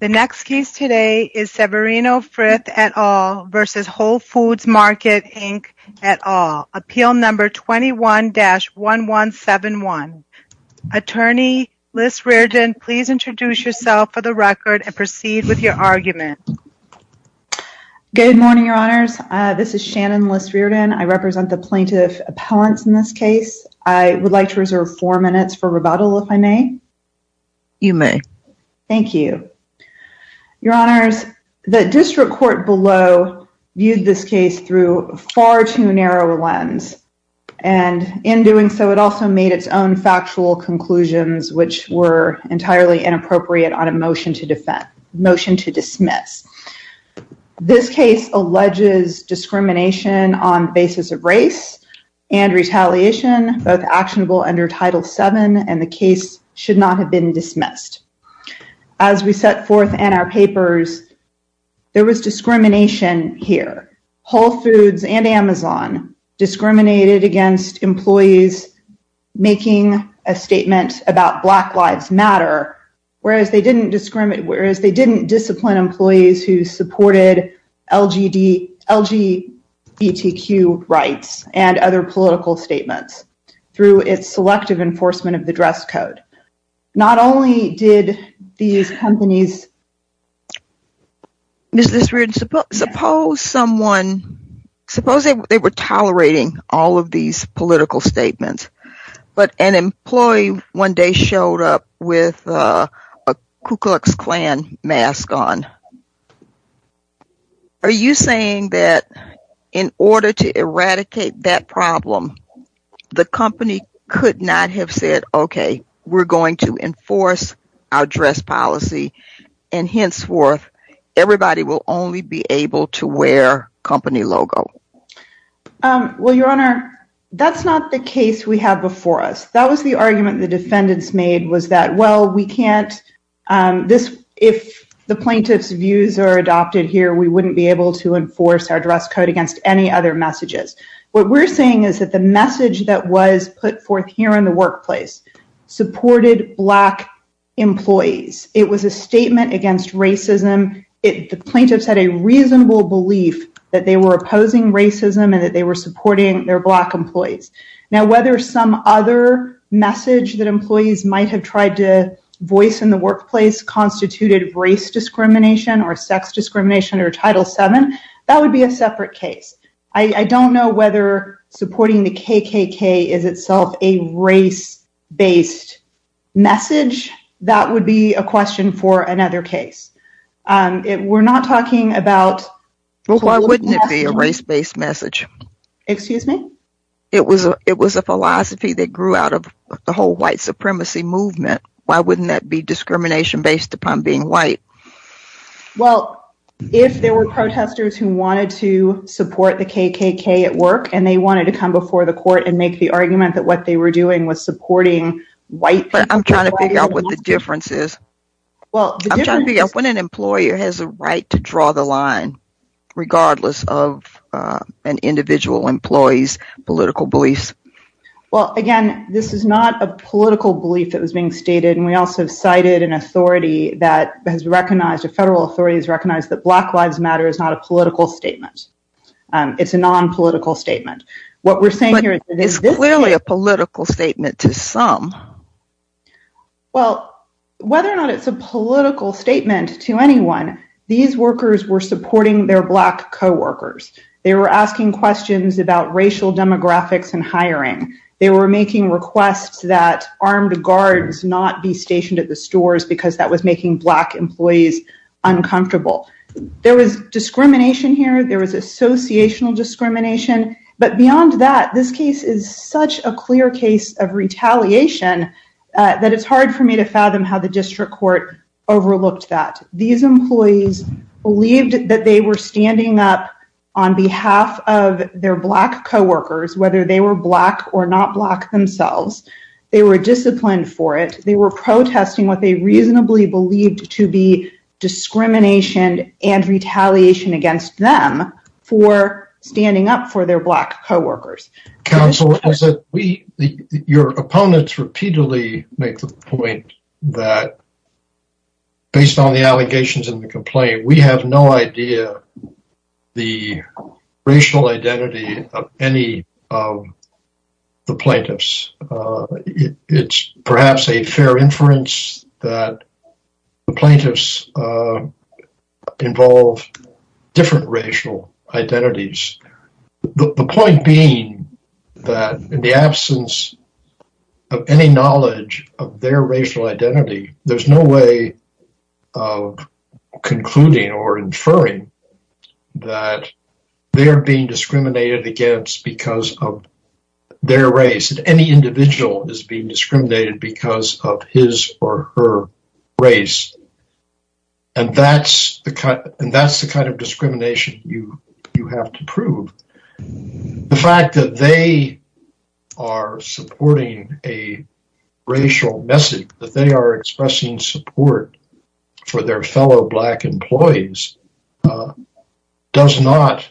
The next case today is Severino Frith et al. v. Whole Foods Market, Inc. et al. Appeal number 21-1171. Attorney Liss Reardon, please introduce yourself for the record and proceed with your argument. Good morning, your honors. This is Shannon Liss Reardon. I represent the plaintiff appellants in this case. I would like to reserve four minutes for rebuttal if I may. You may. Thank you. Your honors, the district court below viewed this case through far too narrow a lens and in doing so it also made its own factual conclusions which were entirely inappropriate on a motion to dismiss. This case alleges discrimination on basis of race and retaliation, both actionable under Title VII and the case should not have been dismissed. As we set forth in our papers, there was discrimination here. Whole Foods and Amazon discriminated against employees making a statement about Black Lives Matter, whereas they didn't discipline employees who supported LGBTQ rights and other political code. Not only did these companies... Ms. Liss Reardon, suppose someone, suppose they were tolerating all of these political statements, but an employee one day showed up with a Ku Klux Klan mask on. Are you saying that in order to eradicate that problem, the company could not have said, okay, we're going to enforce our dress policy and henceforth everybody will only be able to wear company logo? Well, your honor, that's not the case we have before us. That was the argument the defendants made was that, well, we can't, this, if the plaintiff's views are adopted here, we wouldn't be able to enforce our dress code against any other messages. What we're saying is that the message that was put forth here in the workplace supported Black employees. It was a statement against racism. The plaintiffs had a reasonable belief that they were opposing racism and that they were supporting their Black employees. Now, whether some other message that employees might have tried to voice in the workplace constituted race discrimination or sex discrimination or Title VII, that would be a separate case. I don't know whether supporting the KKK is itself a race-based message. That would be a question for another case. We're not talking about... Well, why wouldn't it be a race-based message? Excuse me? It was a philosophy that grew out of the whole white supremacy movement. Why wouldn't that be discrimination based upon being white? Well, if there were protesters who wanted to support the KKK at work and they wanted to come before the court and make the argument that what they were doing was supporting white people... But I'm trying to figure out what the difference is. Well, I'm trying to figure out when an employer has a right to draw the line, regardless of an individual employee's political beliefs. Well, again, this is not a political belief that was being stated. And we also cited an authority that has recognized... A federal authority has recognized that Black Lives Matter is not a political statement. It's a non-political statement. What we're saying here... But it's clearly a political statement to some. Well, whether or not it's a political statement to anyone, these workers were supporting their Black co-workers. They were asking questions about racial demographics and hiring. They were making requests that armed guards not be stationed at the stores because that was making Black employees uncomfortable. There was discrimination here. There was associational discrimination. But beyond that, this case is such a clear case of retaliation that it's hard for me to fathom how the district court overlooked that. These employees believed that they were standing up on behalf of their Black co-workers, whether they were Black or not Black themselves. They were disciplined for it. They were protesting what they reasonably believed to be discrimination and retaliation against them for standing up for their Black co-workers. Counsel, your opponents repeatedly make the point that, based on the allegations and the complaint, we have no idea the racial identity of any of the plaintiffs. It's perhaps a fair inference that the plaintiffs involve different racial identities. The point being that in the absence of any knowledge of their racial identity, there's no way of concluding or inferring that they're being discriminated against because of their race. Any individual is being discriminated because of his or her race. And that's the kind of discrimination you have to prove. The fact that they are supporting a racial message, that they are expressing support for their fellow Black employees, does not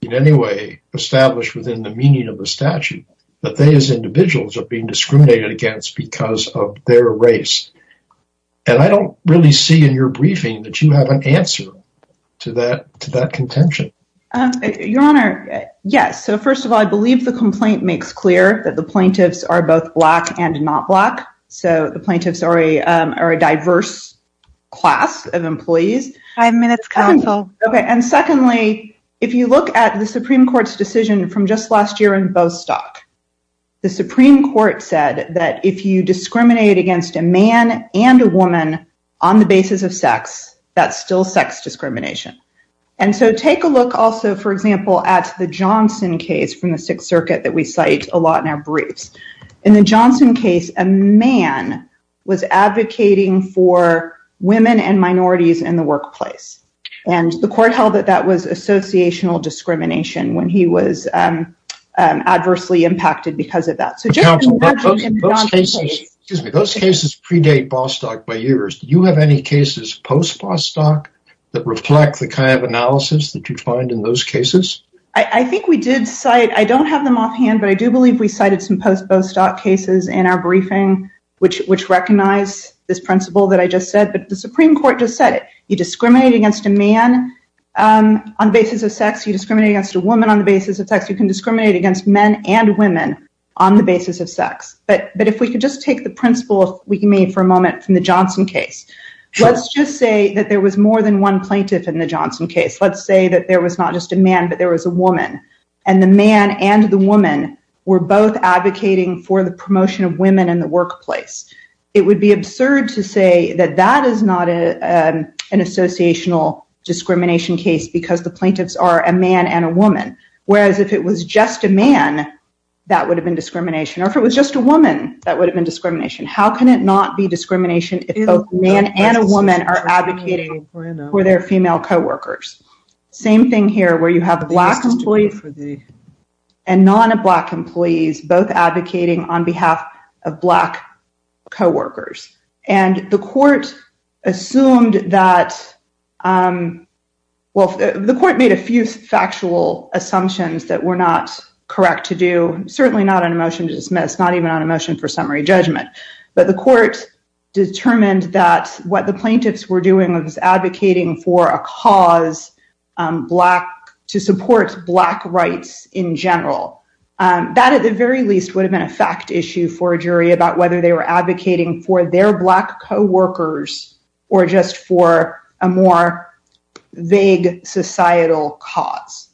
in any way establish within the meaning of the statute that they as individuals are being discriminated against because of their race. And I don't really see in your briefing that you have an answer to that contention. Your Honor, yes. So first of all, I believe the complaint makes clear that the plaintiffs are both Black and not Black. So the plaintiffs are a diverse class of employees. Five minutes, counsel. Okay. And secondly, if you look at the Supreme Court's decision from just last year in Bostock, the Supreme Court said that if you discriminate against a man and a woman on the basis of sex, that's still sex discrimination. And so take a look also, for example, at the Johnson case from the Sixth Circuit that we cite a lot in our briefs. In the Johnson case, a man was advocating for women and minorities in the workplace. And the court held that that was associational discrimination when he was adversely impacted because of that. But counsel, those cases predate Bostock by years. Do you have any cases post-Bostock that reflect the kind of analysis that you find in those cases? I think we did cite, I don't have them offhand, but I do believe we cited some post-Bostock cases in our briefing, which recognize this principle that I just said. But the Supreme Court just said you discriminate against a man on the basis of sex, you discriminate against a woman on the basis of sex, you can discriminate against men and women on the basis of sex. But if we could just take the principle we can make for a moment from the Johnson case, let's just say that there was more than one plaintiff in the Johnson case. Let's say that there was not just a man, but there was a woman. And the man and the woman were both advocating for the promotion of women in the workplace. It would be absurd to say that that is not an associational discrimination case because the plaintiffs are a man and a woman. Whereas if it was just a man, that would have been discrimination. Or if it was just a woman, that would have been discrimination. How can it not be discrimination if both man and a woman are advocating for their female co-workers? Same thing here where you have black employees and non-black employees both advocating on behalf of black co-workers. And the court assumed that, well, the court made a few factual assumptions that were not correct to do, certainly not on a motion to dismiss, not even on a motion for summary judgment. But the court determined that what the plaintiffs were doing was advocating for a cause to support black rights in general. That at the very least would have been a fact issue for a jury about whether they were advocating for their black co-workers or just for a more vague societal cause.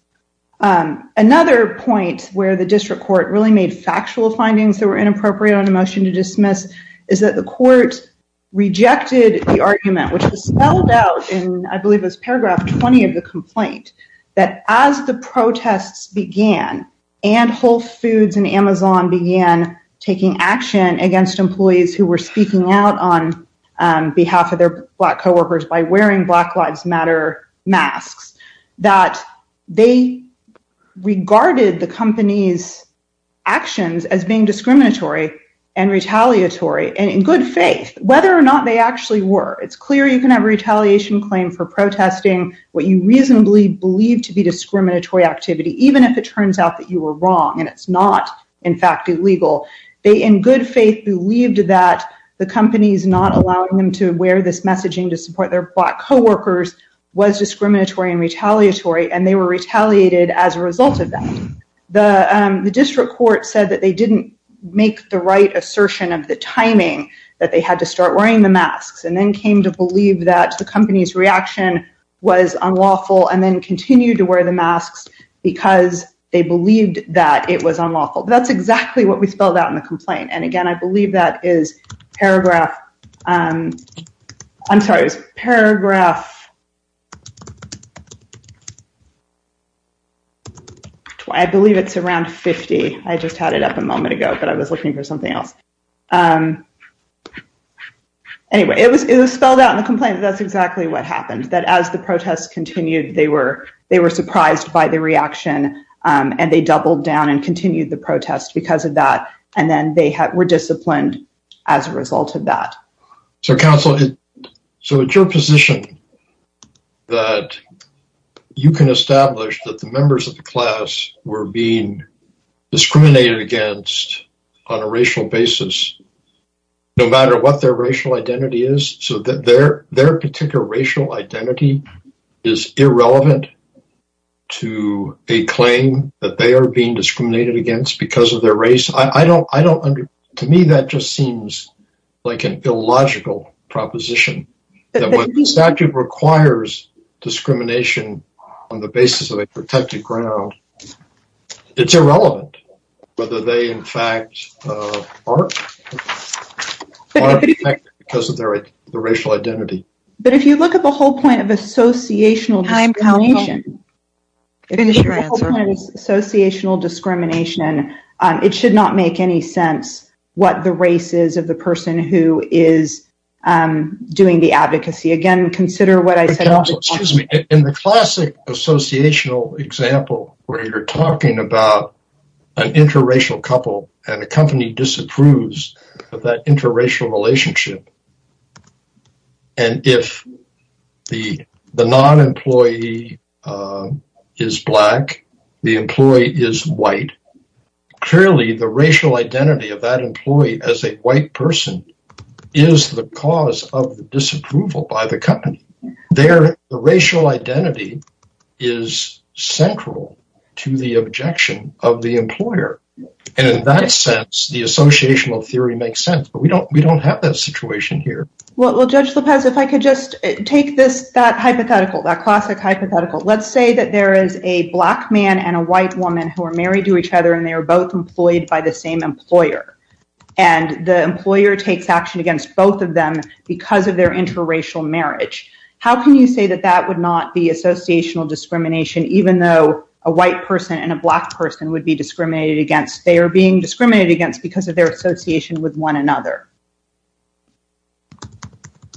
Another point where the district court really made factual findings that were inappropriate on a motion to dismiss is that the court rejected the argument, which was spelled out in, I believe it was paragraph 20 of the complaint, that as the protests began and Whole Foods and Amazon began taking action against employees who were speaking out on behalf of their black co-workers by wearing Black Lives Matter masks, that they regarded the company's actions as being discriminatory and retaliatory, and in good faith, whether or not they actually were. It's clear you can have a retaliation claim for protesting what you reasonably believe to be discriminatory activity, even if it turns out that you were wrong and it's not in fact illegal. They in good faith believed that the company's not allowing them to wear this messaging to support their black co-workers was discriminatory and retaliatory and they were retaliated as a result of that. The district court said that they didn't make the right assertion of the timing that they had to start wearing the masks and then came to believe that the company's reaction was unlawful and then continued to wear the masks because they believed that it was unlawful. That's exactly what we spelled out in the complaint. And again, I believe that is paragraph... I'm sorry, it was paragraph... I believe it's around 50. I just had it up a moment ago, but I was looking for something else. Anyway, it was spelled out in the complaint. That's exactly what happened, that as the protests continued, they were surprised by the reaction and they doubled down and continued the protest because of that. And then they were disciplined as a result of that. So counsel, so it's your position that you can establish that the members of the class were being discriminated against because of their race, no matter what their racial identity is, so that their particular racial identity is irrelevant to a claim that they are being discriminated against because of their race? To me, that just seems like an illogical proposition that when the statute requires discrimination on the basis of a protected ground, it's irrelevant whether they in fact aren't because of their racial identity. But if you look at the whole point of associational discrimination, it should not make any sense what the race is of the person who is doing the advocacy. Again, consider what I said. In the classic associational example where you're talking about an interracial couple and a company disapproves of that interracial relationship, and if the non-employee is black, the employee is white, clearly the racial identity of that there, the racial identity is central to the objection of the employer. And in that sense, the associational theory makes sense, but we don't have that situation here. Well, Judge Lopez, if I could just take this, that hypothetical, that classic hypothetical, let's say that there is a black man and a white woman who are married to each other, and they are both employed by the same employer. And the employer takes action against both of them because of their interracial marriage. How can you say that that would not be associational discrimination, even though a white person and a black person would be discriminated against? They are being discriminated against because of their association with one another.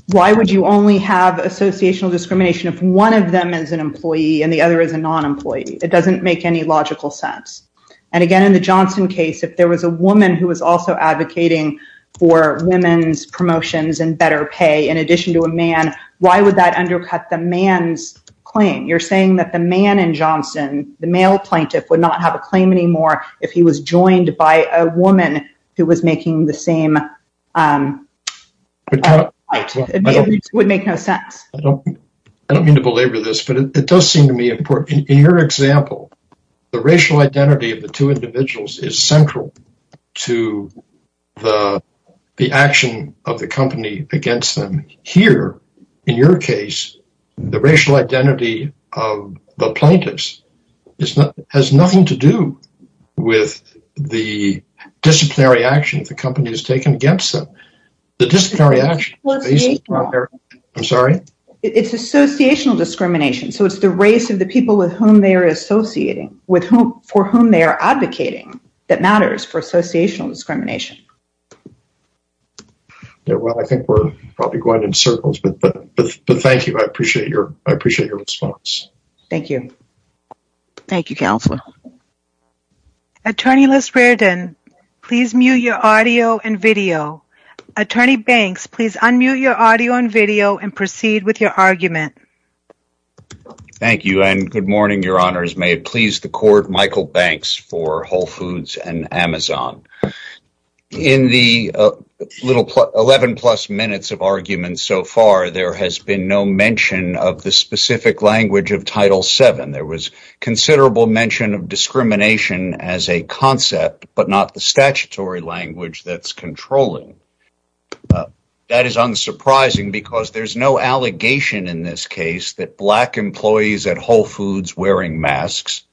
Why would you only have associational discrimination if one of them is an employee and the other is a non-employee? It doesn't make any logical sense. And again, in the Johnson case, if there was a woman who was also advocating for women's promotions and better pay in addition to a man, why would that undercut the man's claim? You're saying that the man in Johnson, the male plaintiff would not have a claim anymore if he was joined by a woman who was making the same... It would make no sense. I don't mean to belabor this, but it does seem to me important. In your example, the racial identity of the two individuals is central to the action of the company against them. Here, in your case, the racial identity of the plaintiffs has nothing to do with the disciplinary actions the company has taken against them. The disciplinary actions... I'm sorry? It's associational discrimination. So it's the race of the people with whom they are associating, for whom they are advocating, that matters for associational discrimination. Well, I think we're probably going in circles, but thank you. I appreciate your response. Thank you. Thank you, Councillor. Attorney Les Reardon, please mute your audio and video. Attorney Banks, please unmute your audio and video and proceed with your argument. Thank you, and good morning, Your Honours. May it please the Court, Michael Banks for Whole Foods and Amazon. In the 11-plus minutes of argument so far, there has been no mention of the specific language of Title VII. There was considerable mention of discrimination as a concept, but not the statutory language that's controlling. That is unsurprising because there's no allegation in this case that black employees at Whole Foods wearing masks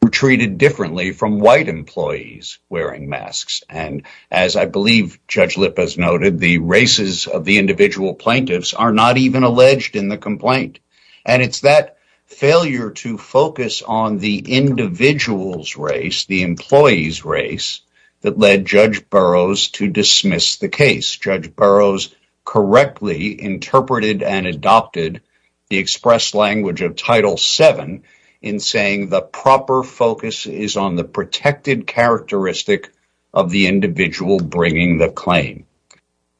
were treated differently from white employees wearing masks. And as I believe Judge Lippas noted, the races of the individual plaintiffs are not even alleged in the complaint. And it's that failure to focus on the individual's race, the employee's race, that led Judge Burroughs to dismiss the case. Judge Burroughs correctly interpreted and adopted the express language of Title VII in saying the proper focus is on the protected characteristic of the individual bringing the claim.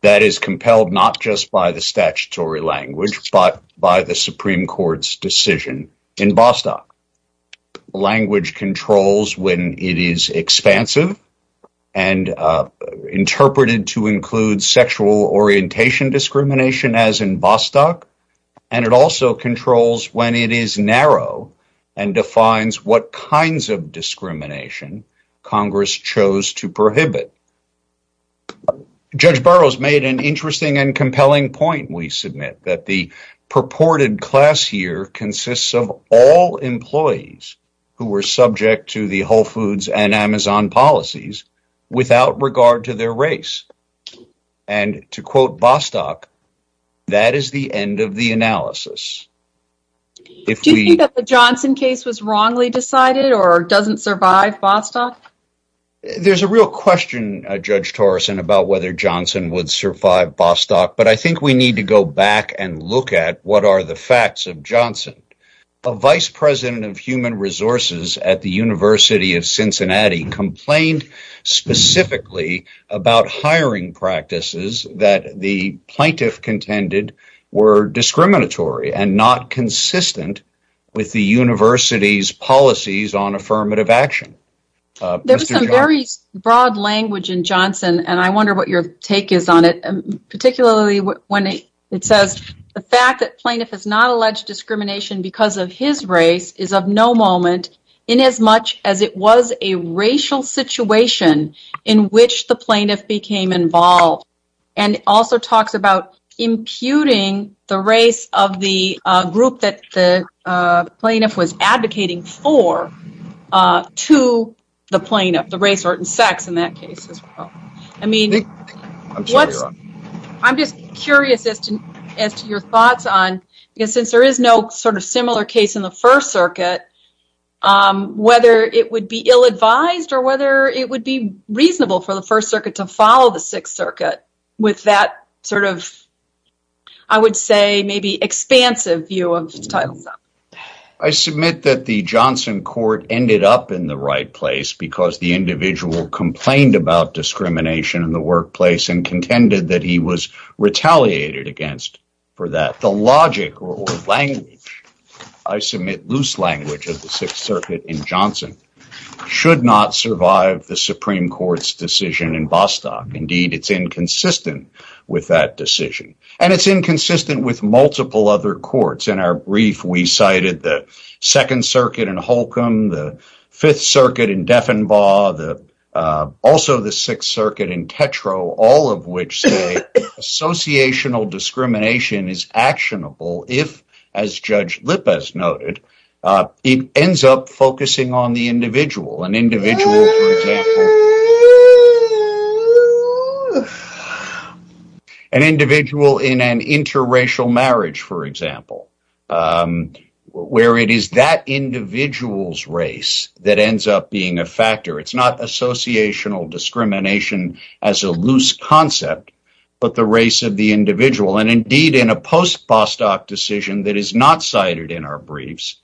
That is compelled not just by the statutory language, but by the Supreme Court's decision in Bostock. Language controls when it is expansive and interpreted to include sexual orientation discrimination, as in Bostock, and it also controls when it is narrow and defines what kinds of discrimination Congress chose to prohibit. Judge Burroughs made an interesting and compelling point, we submit, that the purported class here consists of all employees who were subject to the Whole Foods and Amazon policies without regard to their race. And to quote Bostock, that is the end of the analysis. Do you think that the Johnson case was wrongly decided or doesn't survive Bostock? There's a real question, Judge Torreson, about whether Johnson would survive Bostock, but I think we need to go back and look at what are the facts of Johnson. A vice president of human resources at the University of Cincinnati complained specifically about hiring practices that the plaintiff contended were discriminatory and not consistent with the university's policies on affirmative action. There's some very broad language in Johnson and I wonder what your take is on it, particularly when it says the fact that plaintiff has not alleged discrimination because of his race is of no moment in as much as it was a racial situation in which the plaintiff became involved and also talks about imputing the race of the group that the plaintiff was advocating for to the plaintiff, the race or sex in that case as well. I mean, I'm just curious as to your thoughts on, because since there is no sort of similar case in the reasonable for the First Circuit to follow the Sixth Circuit with that sort of, I would say, maybe expansive view of Title VII. I submit that the Johnson court ended up in the right place because the individual complained about discrimination in the workplace and contended that he was retaliated against for that. The logic or language, I submit loose language of Sixth Circuit in Johnson should not survive the Supreme Court's decision in Bostock. Indeed, it's inconsistent with that decision and it's inconsistent with multiple other courts. In our brief, we cited the Second Circuit in Holcomb, the Fifth Circuit in Defenbaugh, also the Sixth Circuit in Tetro, all of which say associational discrimination is actionable if, as Judge Lippas noted, it ends up focusing on the individual. An individual in an interracial marriage, for example, where it is that individual's race that ends up being a factor. It's not associational discrimination as a loose concept, but the race of the individual. Indeed, in a post-Bostock decision that is not cited in our briefs,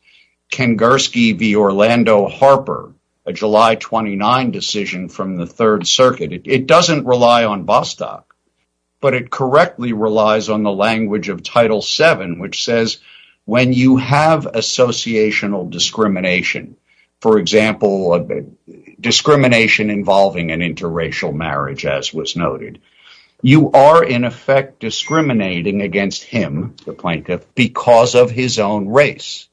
Kengersky v. Orlando Harper, a July 29 decision from the Third Circuit, it doesn't rely on Bostock, but it correctly relies on the language of Title VII, which says when you have associational discrimination, for example, discrimination involving an interracial marriage, as was noted, you are in effect discriminating against him, the plaintiff, because of his own race,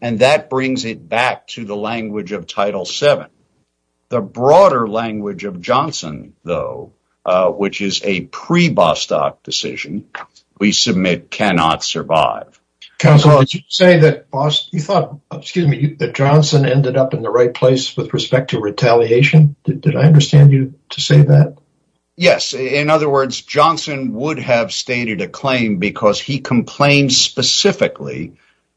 and that brings it back to the language of Title VII. The broader language of Johnson, though, which is a pre-Bostock decision, we submit cannot survive. Counsel, did you say that Johnson ended up in the right place with respect to retaliation? Did I understand you to say that? Yes, in other words, Johnson would have stated a claim because he complained specifically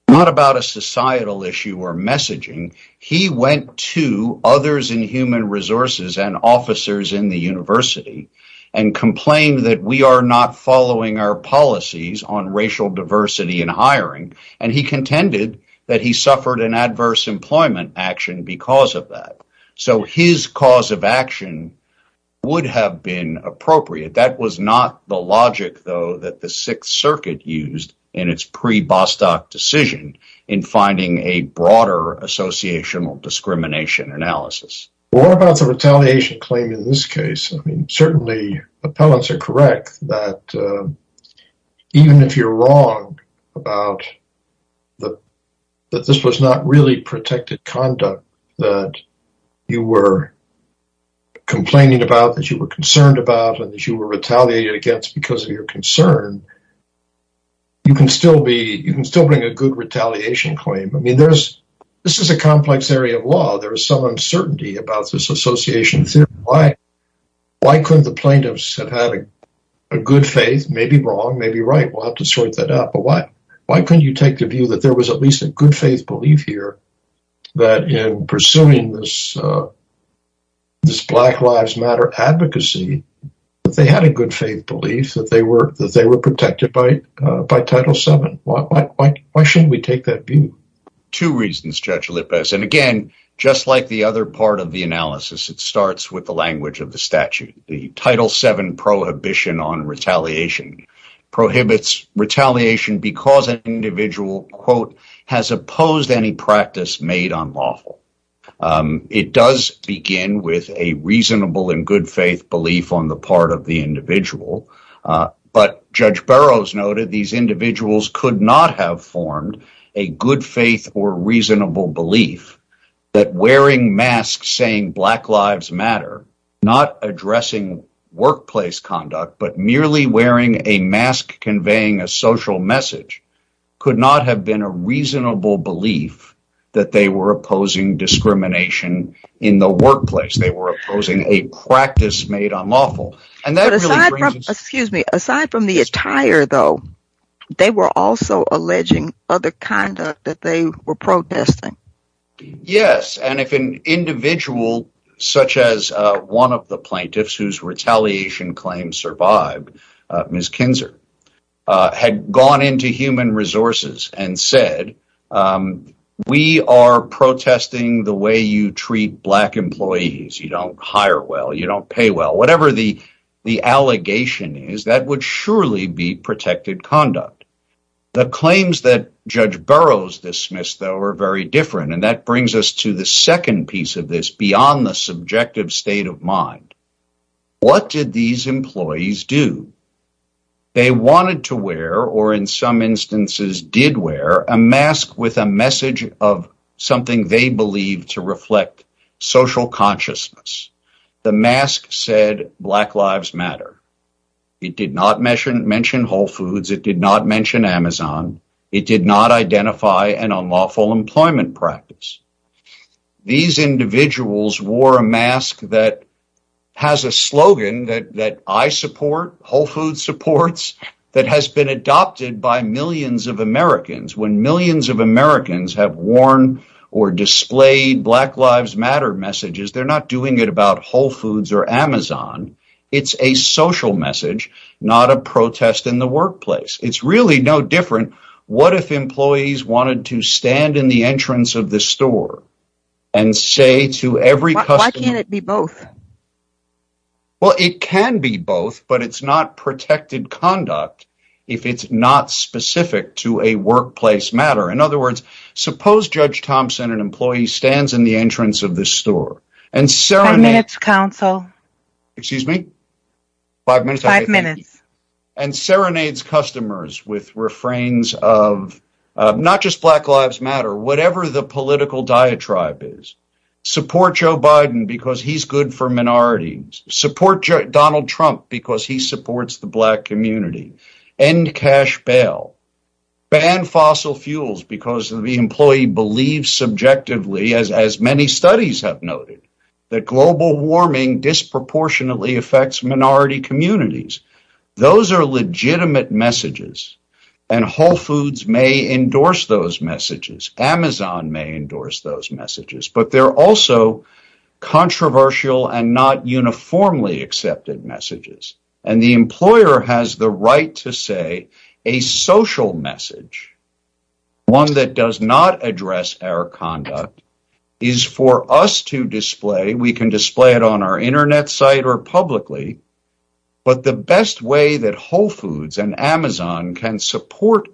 not about a societal issue or messaging. He went to others in human resources and officers in the university and complained that we are not following our policies on racial diversity in hiring, and he contended that he suffered an adverse employment action because of that, so his cause of action would have been appropriate. That was not the logic, though, that the Sixth Circuit used in its pre-Bostock decision in finding a broader associational discrimination analysis. What about the retaliation claim in this case? I mean, certainly, appellants are correct that even if you're wrong about that this was not really protected conduct that you were complaining about, that you were concerned about, and that you were retaliated against because of your concern, you can still bring a good retaliation claim. I mean, this is a complex area of law. There is some uncertainty about this association theory. Why couldn't the plaintiffs have had a good faith, maybe wrong, maybe right? We'll have to sort that out, but why couldn't you take the view that there was at least a good faith belief here that in pursuing this Black Lives Matter advocacy that they had a good faith belief that they were protected by Title VII? Why shouldn't we take that view? Two reasons, Judge Lippes, and again, just like the other part of the analysis, it starts with the language of the statute. The Title VII prohibition on retaliation prohibits retaliation because an individual, quote, has opposed any practice made unlawful. It does begin with a reasonable and good faith belief on the part of the individual, but Judge Burroughs noted these individuals could not have formed a good faith or reasonable belief that wearing masks saying Black Lives Matter, not addressing workplace conduct, but merely wearing a mask conveying a social message could not have been a reasonable belief that they were opposing discrimination in the workplace. They were opposing a practice made unlawful. But aside from, excuse me, aside from the attire, though, they were also alleging other conduct that they were protesting. Yes, and if an individual such as one of the plaintiffs whose retaliation claims survived, Ms. Kinzer, had gone into human resources and said, we are protesting the way you treat Black employees, you don't hire well, you don't pay well, whatever the the allegation is, that would surely be protected conduct. The claims that Judge Burroughs dismissed, though, are very different, and that brings us to the second piece of this beyond the subjective state of mind. What did these employees do? They wanted to wear, or in some instances did wear, a mask with a message of something they believed to reflect social consciousness. The mask said Black Lives Matter. It did not mention Whole Foods. It did not mention Amazon. It did not identify an unlawful employment practice. These individuals wore a mask that has a slogan that I support, Whole Foods supports, that has been adopted by millions of Americans. When millions of Americans have worn or displayed Black Lives Matter messages, they're not doing it about Whole Foods or Amazon. It's a social message, not a protest in the workplace. It's really no different. What if employees wanted to stand in the entrance of the store and say to every customer... Why can't it be both? Well, it can be both, but it's not protected conduct if it's not specific to a workplace matter. In other words, suppose Judge Thompson, an employee, stands in the entrance of the store and serenades customers with refrains of not just Black Lives Matter, whatever the political diatribe is. Support Joe Biden because he's good for minorities. Support Donald Trump because he supports the Black community. End cash bail. Ban fossil fuels because the employee believes subjectively, as many studies have noted, that global warming disproportionately affects minority communities. Those are legitimate messages, and Whole Foods may endorse those messages. Amazon may endorse those messages, but they're also controversial and not uniformly accepted messages. The employer has the right to say a social message, one that does not address our conduct, is for us to display. We can display it on our internet site or publicly, but the best way that Whole Foods and Amazon can support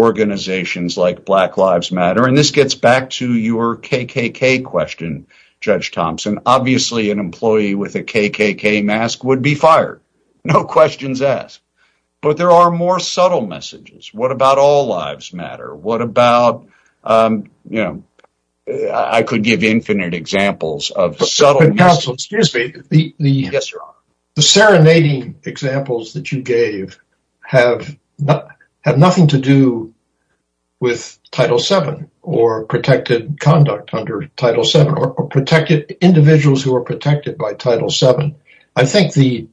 organizations like Black Lives Matter, and this gets back to your KKK question, Judge Thompson, obviously an employee with a KKK mask would be fired. No questions asked, but there are more subtle messages. What about all lives matter? What about, you know, I could give infinite examples of subtle... But counsel, excuse me, the serenading examples that you gave have nothing to do with Title VII or protected conduct under Title VII or individuals who are protected by Title VII. I think the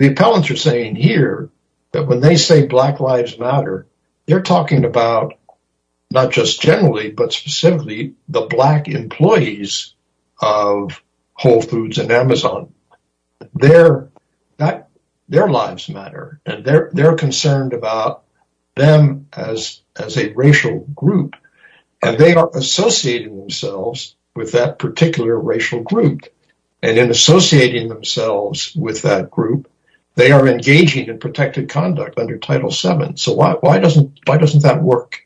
appellants are saying here that when they say Black Lives Matter, they're talking about not just generally, but specifically the Black employees of Whole Foods and Amazon. Their lives matter, and they're concerned about them as a racial group, and they are associating themselves with that particular racial group, and in associating Why doesn't that work?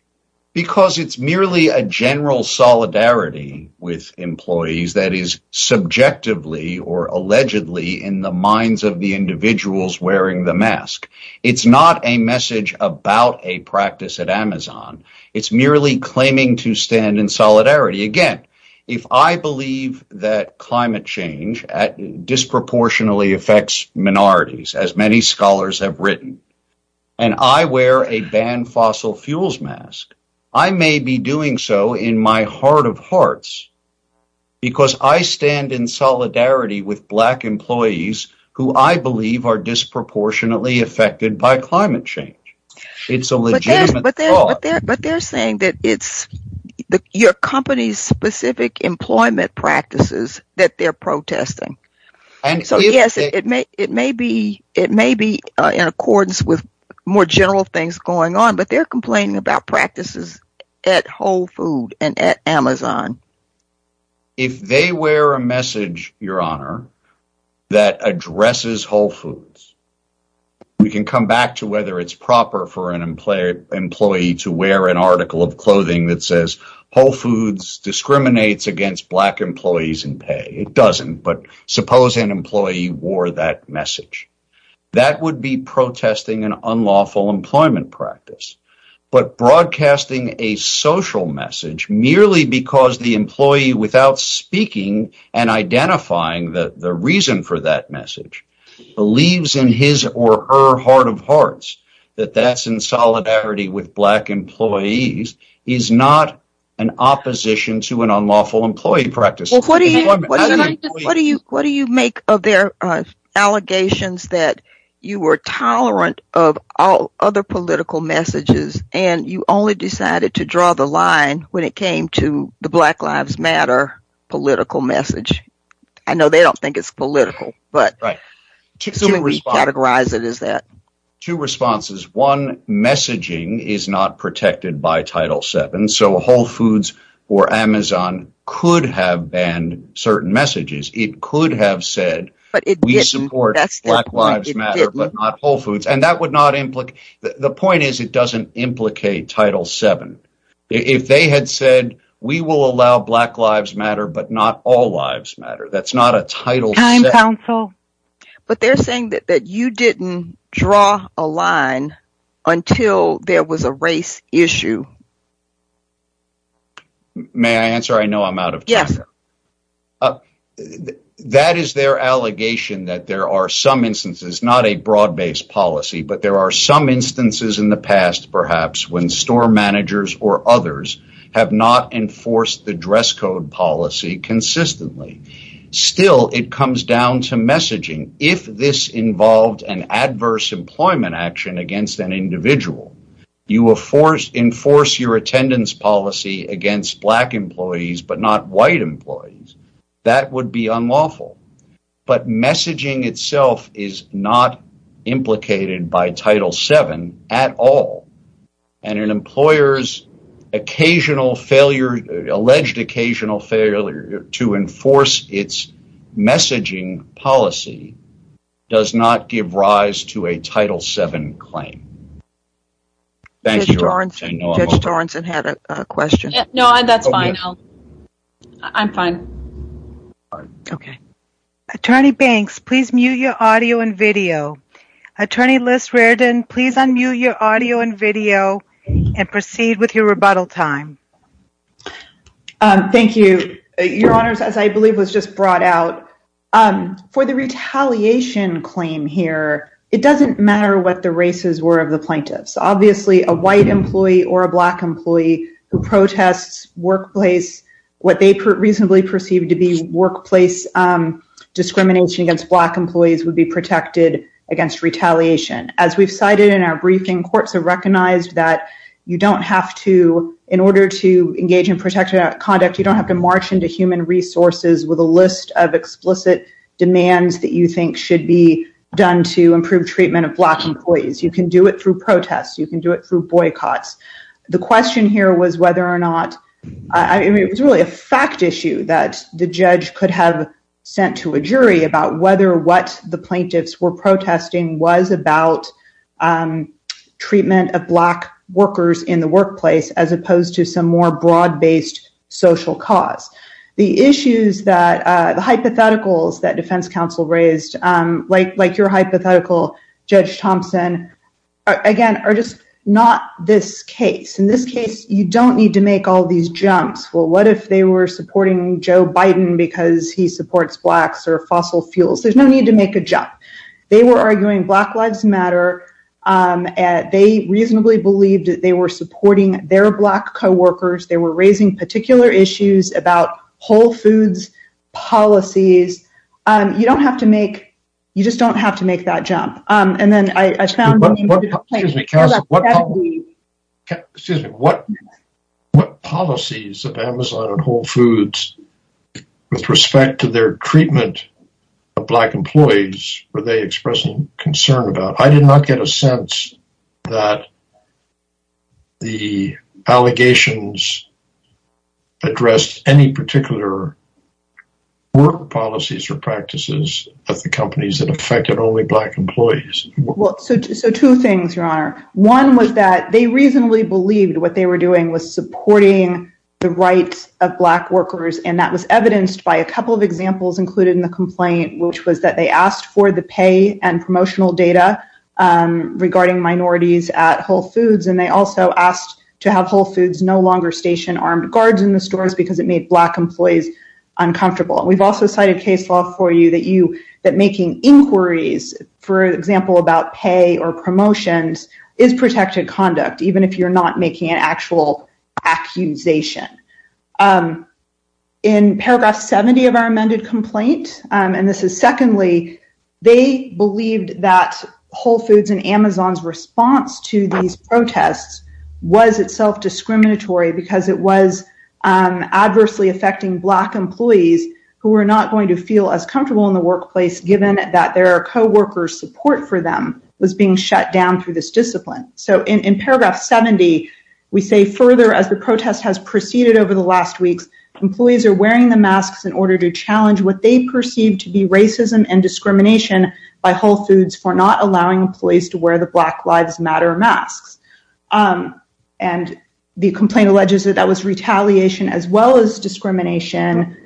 Because it's merely a general solidarity with employees that is subjectively or allegedly in the minds of the individuals wearing the mask. It's not a message about a practice at Amazon. It's merely claiming to stand in solidarity. Again, if I believe that climate change disproportionately affects minorities, as many scholars have written, and I wear a banned fossil fuels mask, I may be doing so in my heart of hearts, because I stand in solidarity with Black employees who I believe are disproportionately affected by climate change. It's a legitimate thought. But they're saying that it's your company's employment practices that they're protesting. So yes, it may be in accordance with more general things going on, but they're complaining about practices at Whole Foods and at Amazon. If they wear a message, your honor, that addresses Whole Foods, we can come back to whether it's against Black employees in pay. It doesn't, but suppose an employee wore that message. That would be protesting an unlawful employment practice. But broadcasting a social message, merely because the employee, without speaking and identifying the reason for that message, believes in his or her heart of hearts, that that's in solidarity with Black employees, is not an opposition to an unlawful employee practice. What do you make of their allegations that you were tolerant of all other political messages, and you only decided to draw the line when it came to the Black Lives Matter political message? I know they don't think it's political, but to categorize it as that. Two responses. One, messaging is not protected by Title VII, so Whole Foods or Amazon could have banned certain messages. It could have said, we support Black Lives Matter, but not Whole Foods. The point is, it doesn't implicate Title VII. If they had said, we will allow Black Lives Matter, but not all lives matter, that's not a Title VII. But they're saying that you didn't draw a line until there was a race issue. May I answer? I know I'm out of time. Yes. That is their allegation that there are some instances, not a broad-based policy, but there are some instances in the past, perhaps, when store managers or others have not enforced the dress code policy consistently. Still, it comes down to messaging. If this involved an adverse employment action against an individual, you enforce your attendance policy against Black employees, but not white employees, that would be unlawful. But messaging itself is not implicated by Title VII at all. And an employer's alleged occasional failure to enforce its messaging policy does not give rise to a Title VII claim. Judge Torrenson had a question. No, that's fine. I'm fine. Okay. Attorney Banks, please mute your audio and video. Attorney Liz Reardon, please unmute your audio and video and proceed with your rebuttal time. Thank you. Your Honors, as I believe was just brought out, for the retaliation claim here, it doesn't matter what the races were of the plaintiffs. Obviously, a white employee or a Black employee who protests workplace, what they reasonably perceived to be workplace discrimination against Black employees would be protected against retaliation. As we've cited in our briefing, courts have recognized that you don't have to, in order to engage in protective conduct, you don't have to march into human resources with a list of explicit demands that you think should be done to improve treatment of Black employees. You can do it through protests. You can do it through boycotts. The question here was whether or not, I mean, it was really a fact issue that the judge could have sent to a jury about whether what the plaintiffs were protesting was about treatment of Black workers in the workplace, as opposed to some more broad-based social cause. The issues that, the hypotheticals that defense counsel raised, like your hypothetical, Judge Thompson, again, are just not this case. In this case, you don't need to make all these jumps. Well, what if they were supporting Joe Biden because he supports Blacks or fossil fuels? There's no need to make a jump. They were arguing Black Lives Matter. They reasonably believed that they were supporting their Black co-workers. They were raising particular issues about Whole Foods policies. You don't have to make, you just don't have to make that jump. Excuse me. What policies of Amazon and Whole Foods, with respect to their treatment of Black employees, were they expressing concern about? I did not get a sense that the allegations addressed any particular work policies or practices of the companies that affected only Black employees. Well, so two things, Your Honor. One was that they reasonably believed what they were doing was supporting the rights of Black workers, and that was evidenced by a couple of examples included in the complaint, which was that they asked for the pay and promotional data regarding minorities at Whole Foods, and they also asked to have Whole Foods no longer station armed guards in the stores because it made Black employees uncomfortable. We've also cited case law for you that making inquiries, for example, about pay or promotions is protected conduct, even if you're not making an actual accusation. In paragraph 70 of our amended complaint, and this is secondly, they believed that Whole Foods and Amazon's response to these protests was itself discriminatory because it was adversely affecting Black employees who were not going to feel as comfortable in the workplace, given that their co-workers support for them was being shut down through this discipline. So in paragraph 70, we say further, as the protest has proceeded over the last weeks, employees are wearing the masks in order to challenge what they perceive to be racism and discrimination by Whole Foods for not allowing employees to wear the Black Lives Matter masks. And the complaint alleges that that was retaliation as well as discrimination,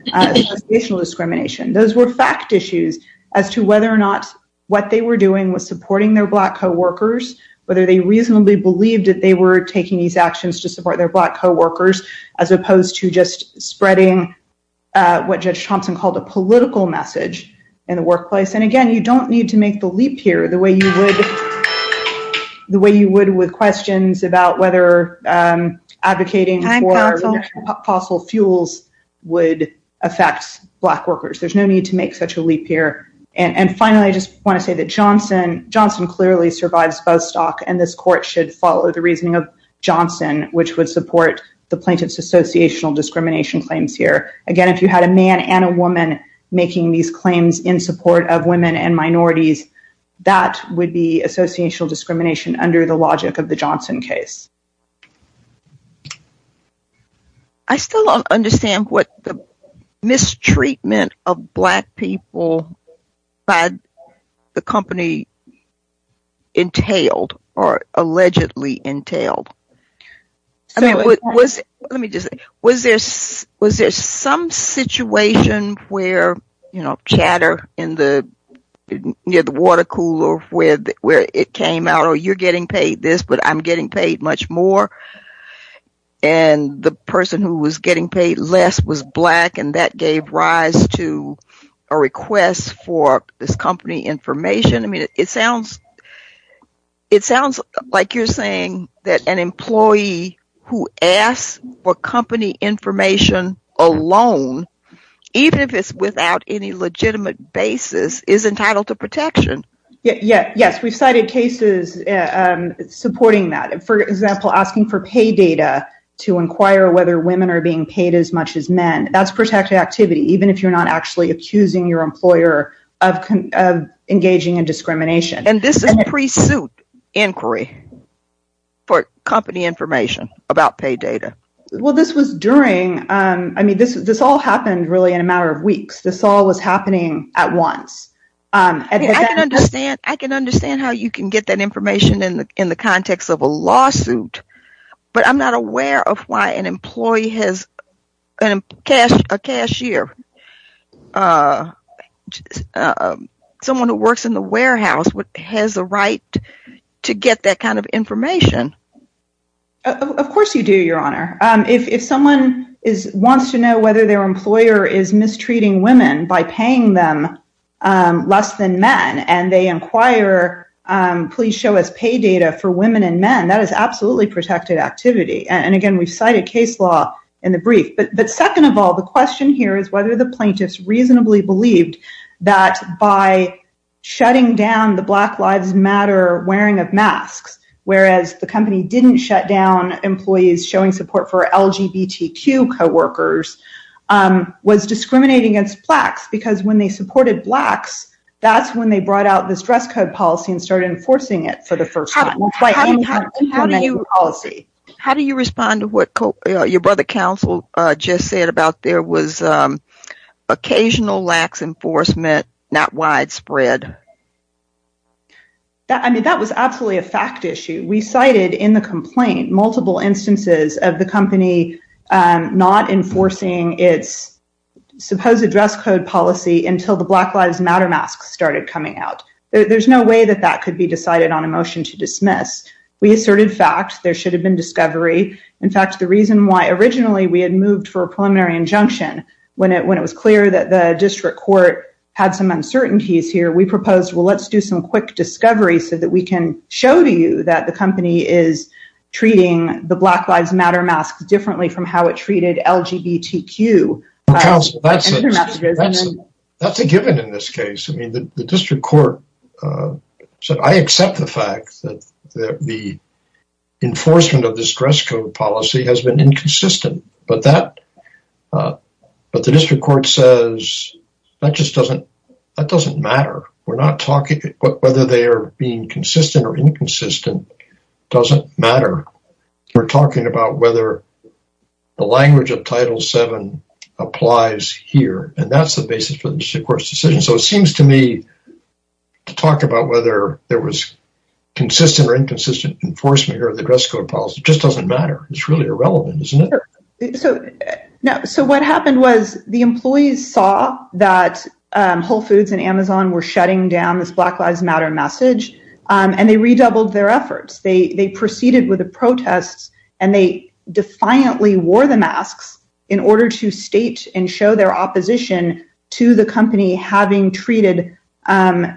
racial discrimination. Those were fact issues as to whether or not what they were doing was supporting their Black co-workers, whether they reasonably believed that they were taking these as opposed to just spreading what Judge Thompson called a political message in the workplace. And again, you don't need to make the leap here the way you would with questions about whether advocating for fossil fuels would affect Black workers. There's no need to make such a leap here. And finally, I just want to say that Johnson clearly survives Buzzstock and this court should follow the reasoning of Johnson, which would support the plaintiff's associational discrimination claims here. Again, if you had a man and a woman making these claims in support of women and minorities, that would be associational discrimination under the logic of the Johnson case. I still don't understand what the mistreatment of Black people by the company entailed or allegedly entailed. Let me just say, was there some situation where, you know, chatter near the water cooler where it came out or you're getting paid this but I'm getting paid much more and the person who was getting paid less was Black and that gave rise to a request for this company information? I mean, it sounds like you're saying that an employee who asks for company information alone, even if it's without any legitimate basis, is entitled to protection. Yes, we've cited cases supporting that. For example, asking for pay data to inquire whether women are being paid as much as men. That's protected activity, even if you're not actually accusing your employer of engaging in discrimination. And this is a pre-suit inquiry for company information about pay data. Well, this was during, I mean, this all happened really in a matter of weeks. This all was happening at once. I can understand how you can get that information in the context of a lawsuit, but I'm not aware of why an employee has a cashier, someone who works in the warehouse, has the right to get that kind of information. Of course you do, Your Honor. If someone wants to know whether their employer is mistreating women by paying them less than men and they inquire, please show us pay data for women and men, that is absolutely protected activity. And again, we've cited case law in the brief. But second of all, the question here is whether the plaintiffs reasonably believed that by shutting down the Black Lives Matter wearing of masks, whereas the company didn't shut down employees showing support for LGBTQ co-workers, was discriminating against blacks because when they supported blacks, that's when they brought out this dress code policy and started enforcing it for the first time. How do you respond to what your brother counsel just said there was occasional lax enforcement, not widespread? I mean, that was absolutely a fact issue. We cited in the complaint multiple instances of the company not enforcing its supposed dress code policy until the Black Lives Matter masks started coming out. There's no way that that could be decided on a motion to dismiss. We asserted fact there should have been discovery. In fact, the reason why originally we had moved for a preliminary injunction when it was clear that the district court had some uncertainties here, we proposed, well, let's do some quick discovery so that we can show to you that the company is treating the Black Lives Matter masks differently from how it treated LGBTQ. That's a given in this case. I mean, the enforcement of this dress code policy has been inconsistent, but the district court says that just doesn't matter. Whether they are being consistent or inconsistent doesn't matter. We're talking about whether the language of Title VII applies here, and that's the basis for the district court's decision. So it seems to me to talk about whether there was just doesn't matter. It's really irrelevant, isn't it? So what happened was the employees saw that Whole Foods and Amazon were shutting down this Black Lives Matter message, and they redoubled their efforts. They proceeded with the protests, and they defiantly wore the masks in order to state and show their opposition to the company having treated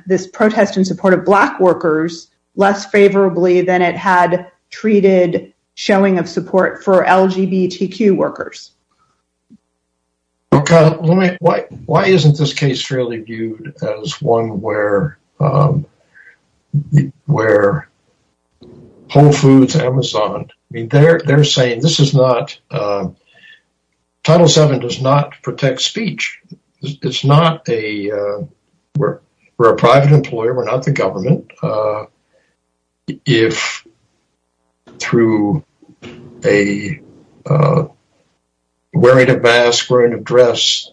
this protest in support of Black workers less favorably than it had treated showing of support for LGBTQ workers. Why isn't this case really viewed as one where Whole Foods, Amazon, I mean, they're saying this is not, Title VII does not protect speech. It's not a, we're a private employer, we're not the government. If through wearing a mask, wearing a dress,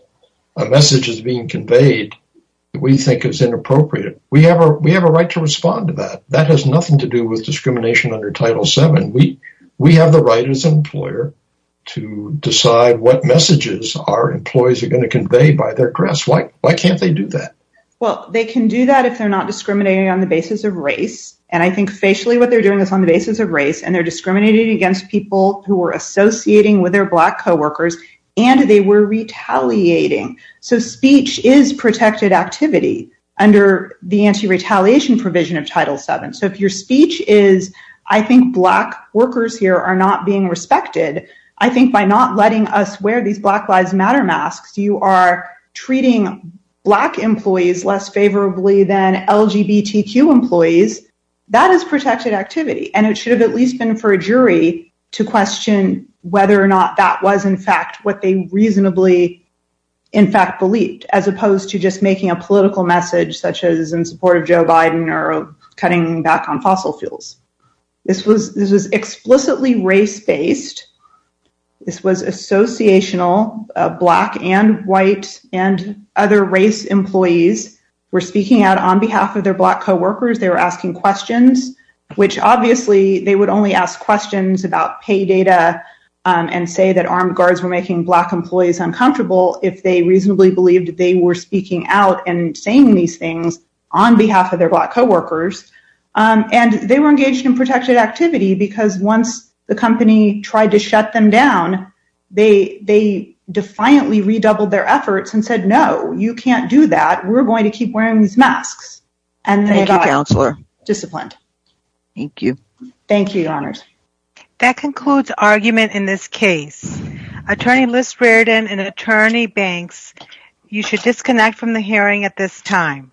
a message is being conveyed, we think it's inappropriate. We have a right to respond to that. That has nothing to do with discrimination under Title VII. We have the right as an employer to decide what messages our employees are going to convey by their dress. Why can't they do that? Well, they can do that if they're not discriminating on the basis of race. And I think facially what they're doing is on the basis of race, and they're discriminating against people who are associating with their Black co-workers, and they were retaliating. So speech is protected activity under the anti-retaliation provision of Title VII. So if your speech is, I think Black workers here are not being respected. I think by not letting us wear these Black Lives Matter masks, you are treating Black employees less favorably than LGBTQ employees. That is protected activity, and it should have at least been for a jury to question whether or not that was in fact what they reasonably, in fact, believed, as opposed to just making a political statement. This was explicitly race-based. This was associational. Black and white and other race employees were speaking out on behalf of their Black co-workers. They were asking questions, which obviously they would only ask questions about pay data and say that armed guards were making Black employees uncomfortable if they reasonably believed they were speaking out and because once the company tried to shut them down, they defiantly redoubled their efforts and said, no, you can't do that. We're going to keep wearing these masks. And they got disciplined. Thank you. Thank you, Your Honors. That concludes argument in this case. Attorney Liz Reardon and Attorney Banks, you should disconnect from the hearing at this time.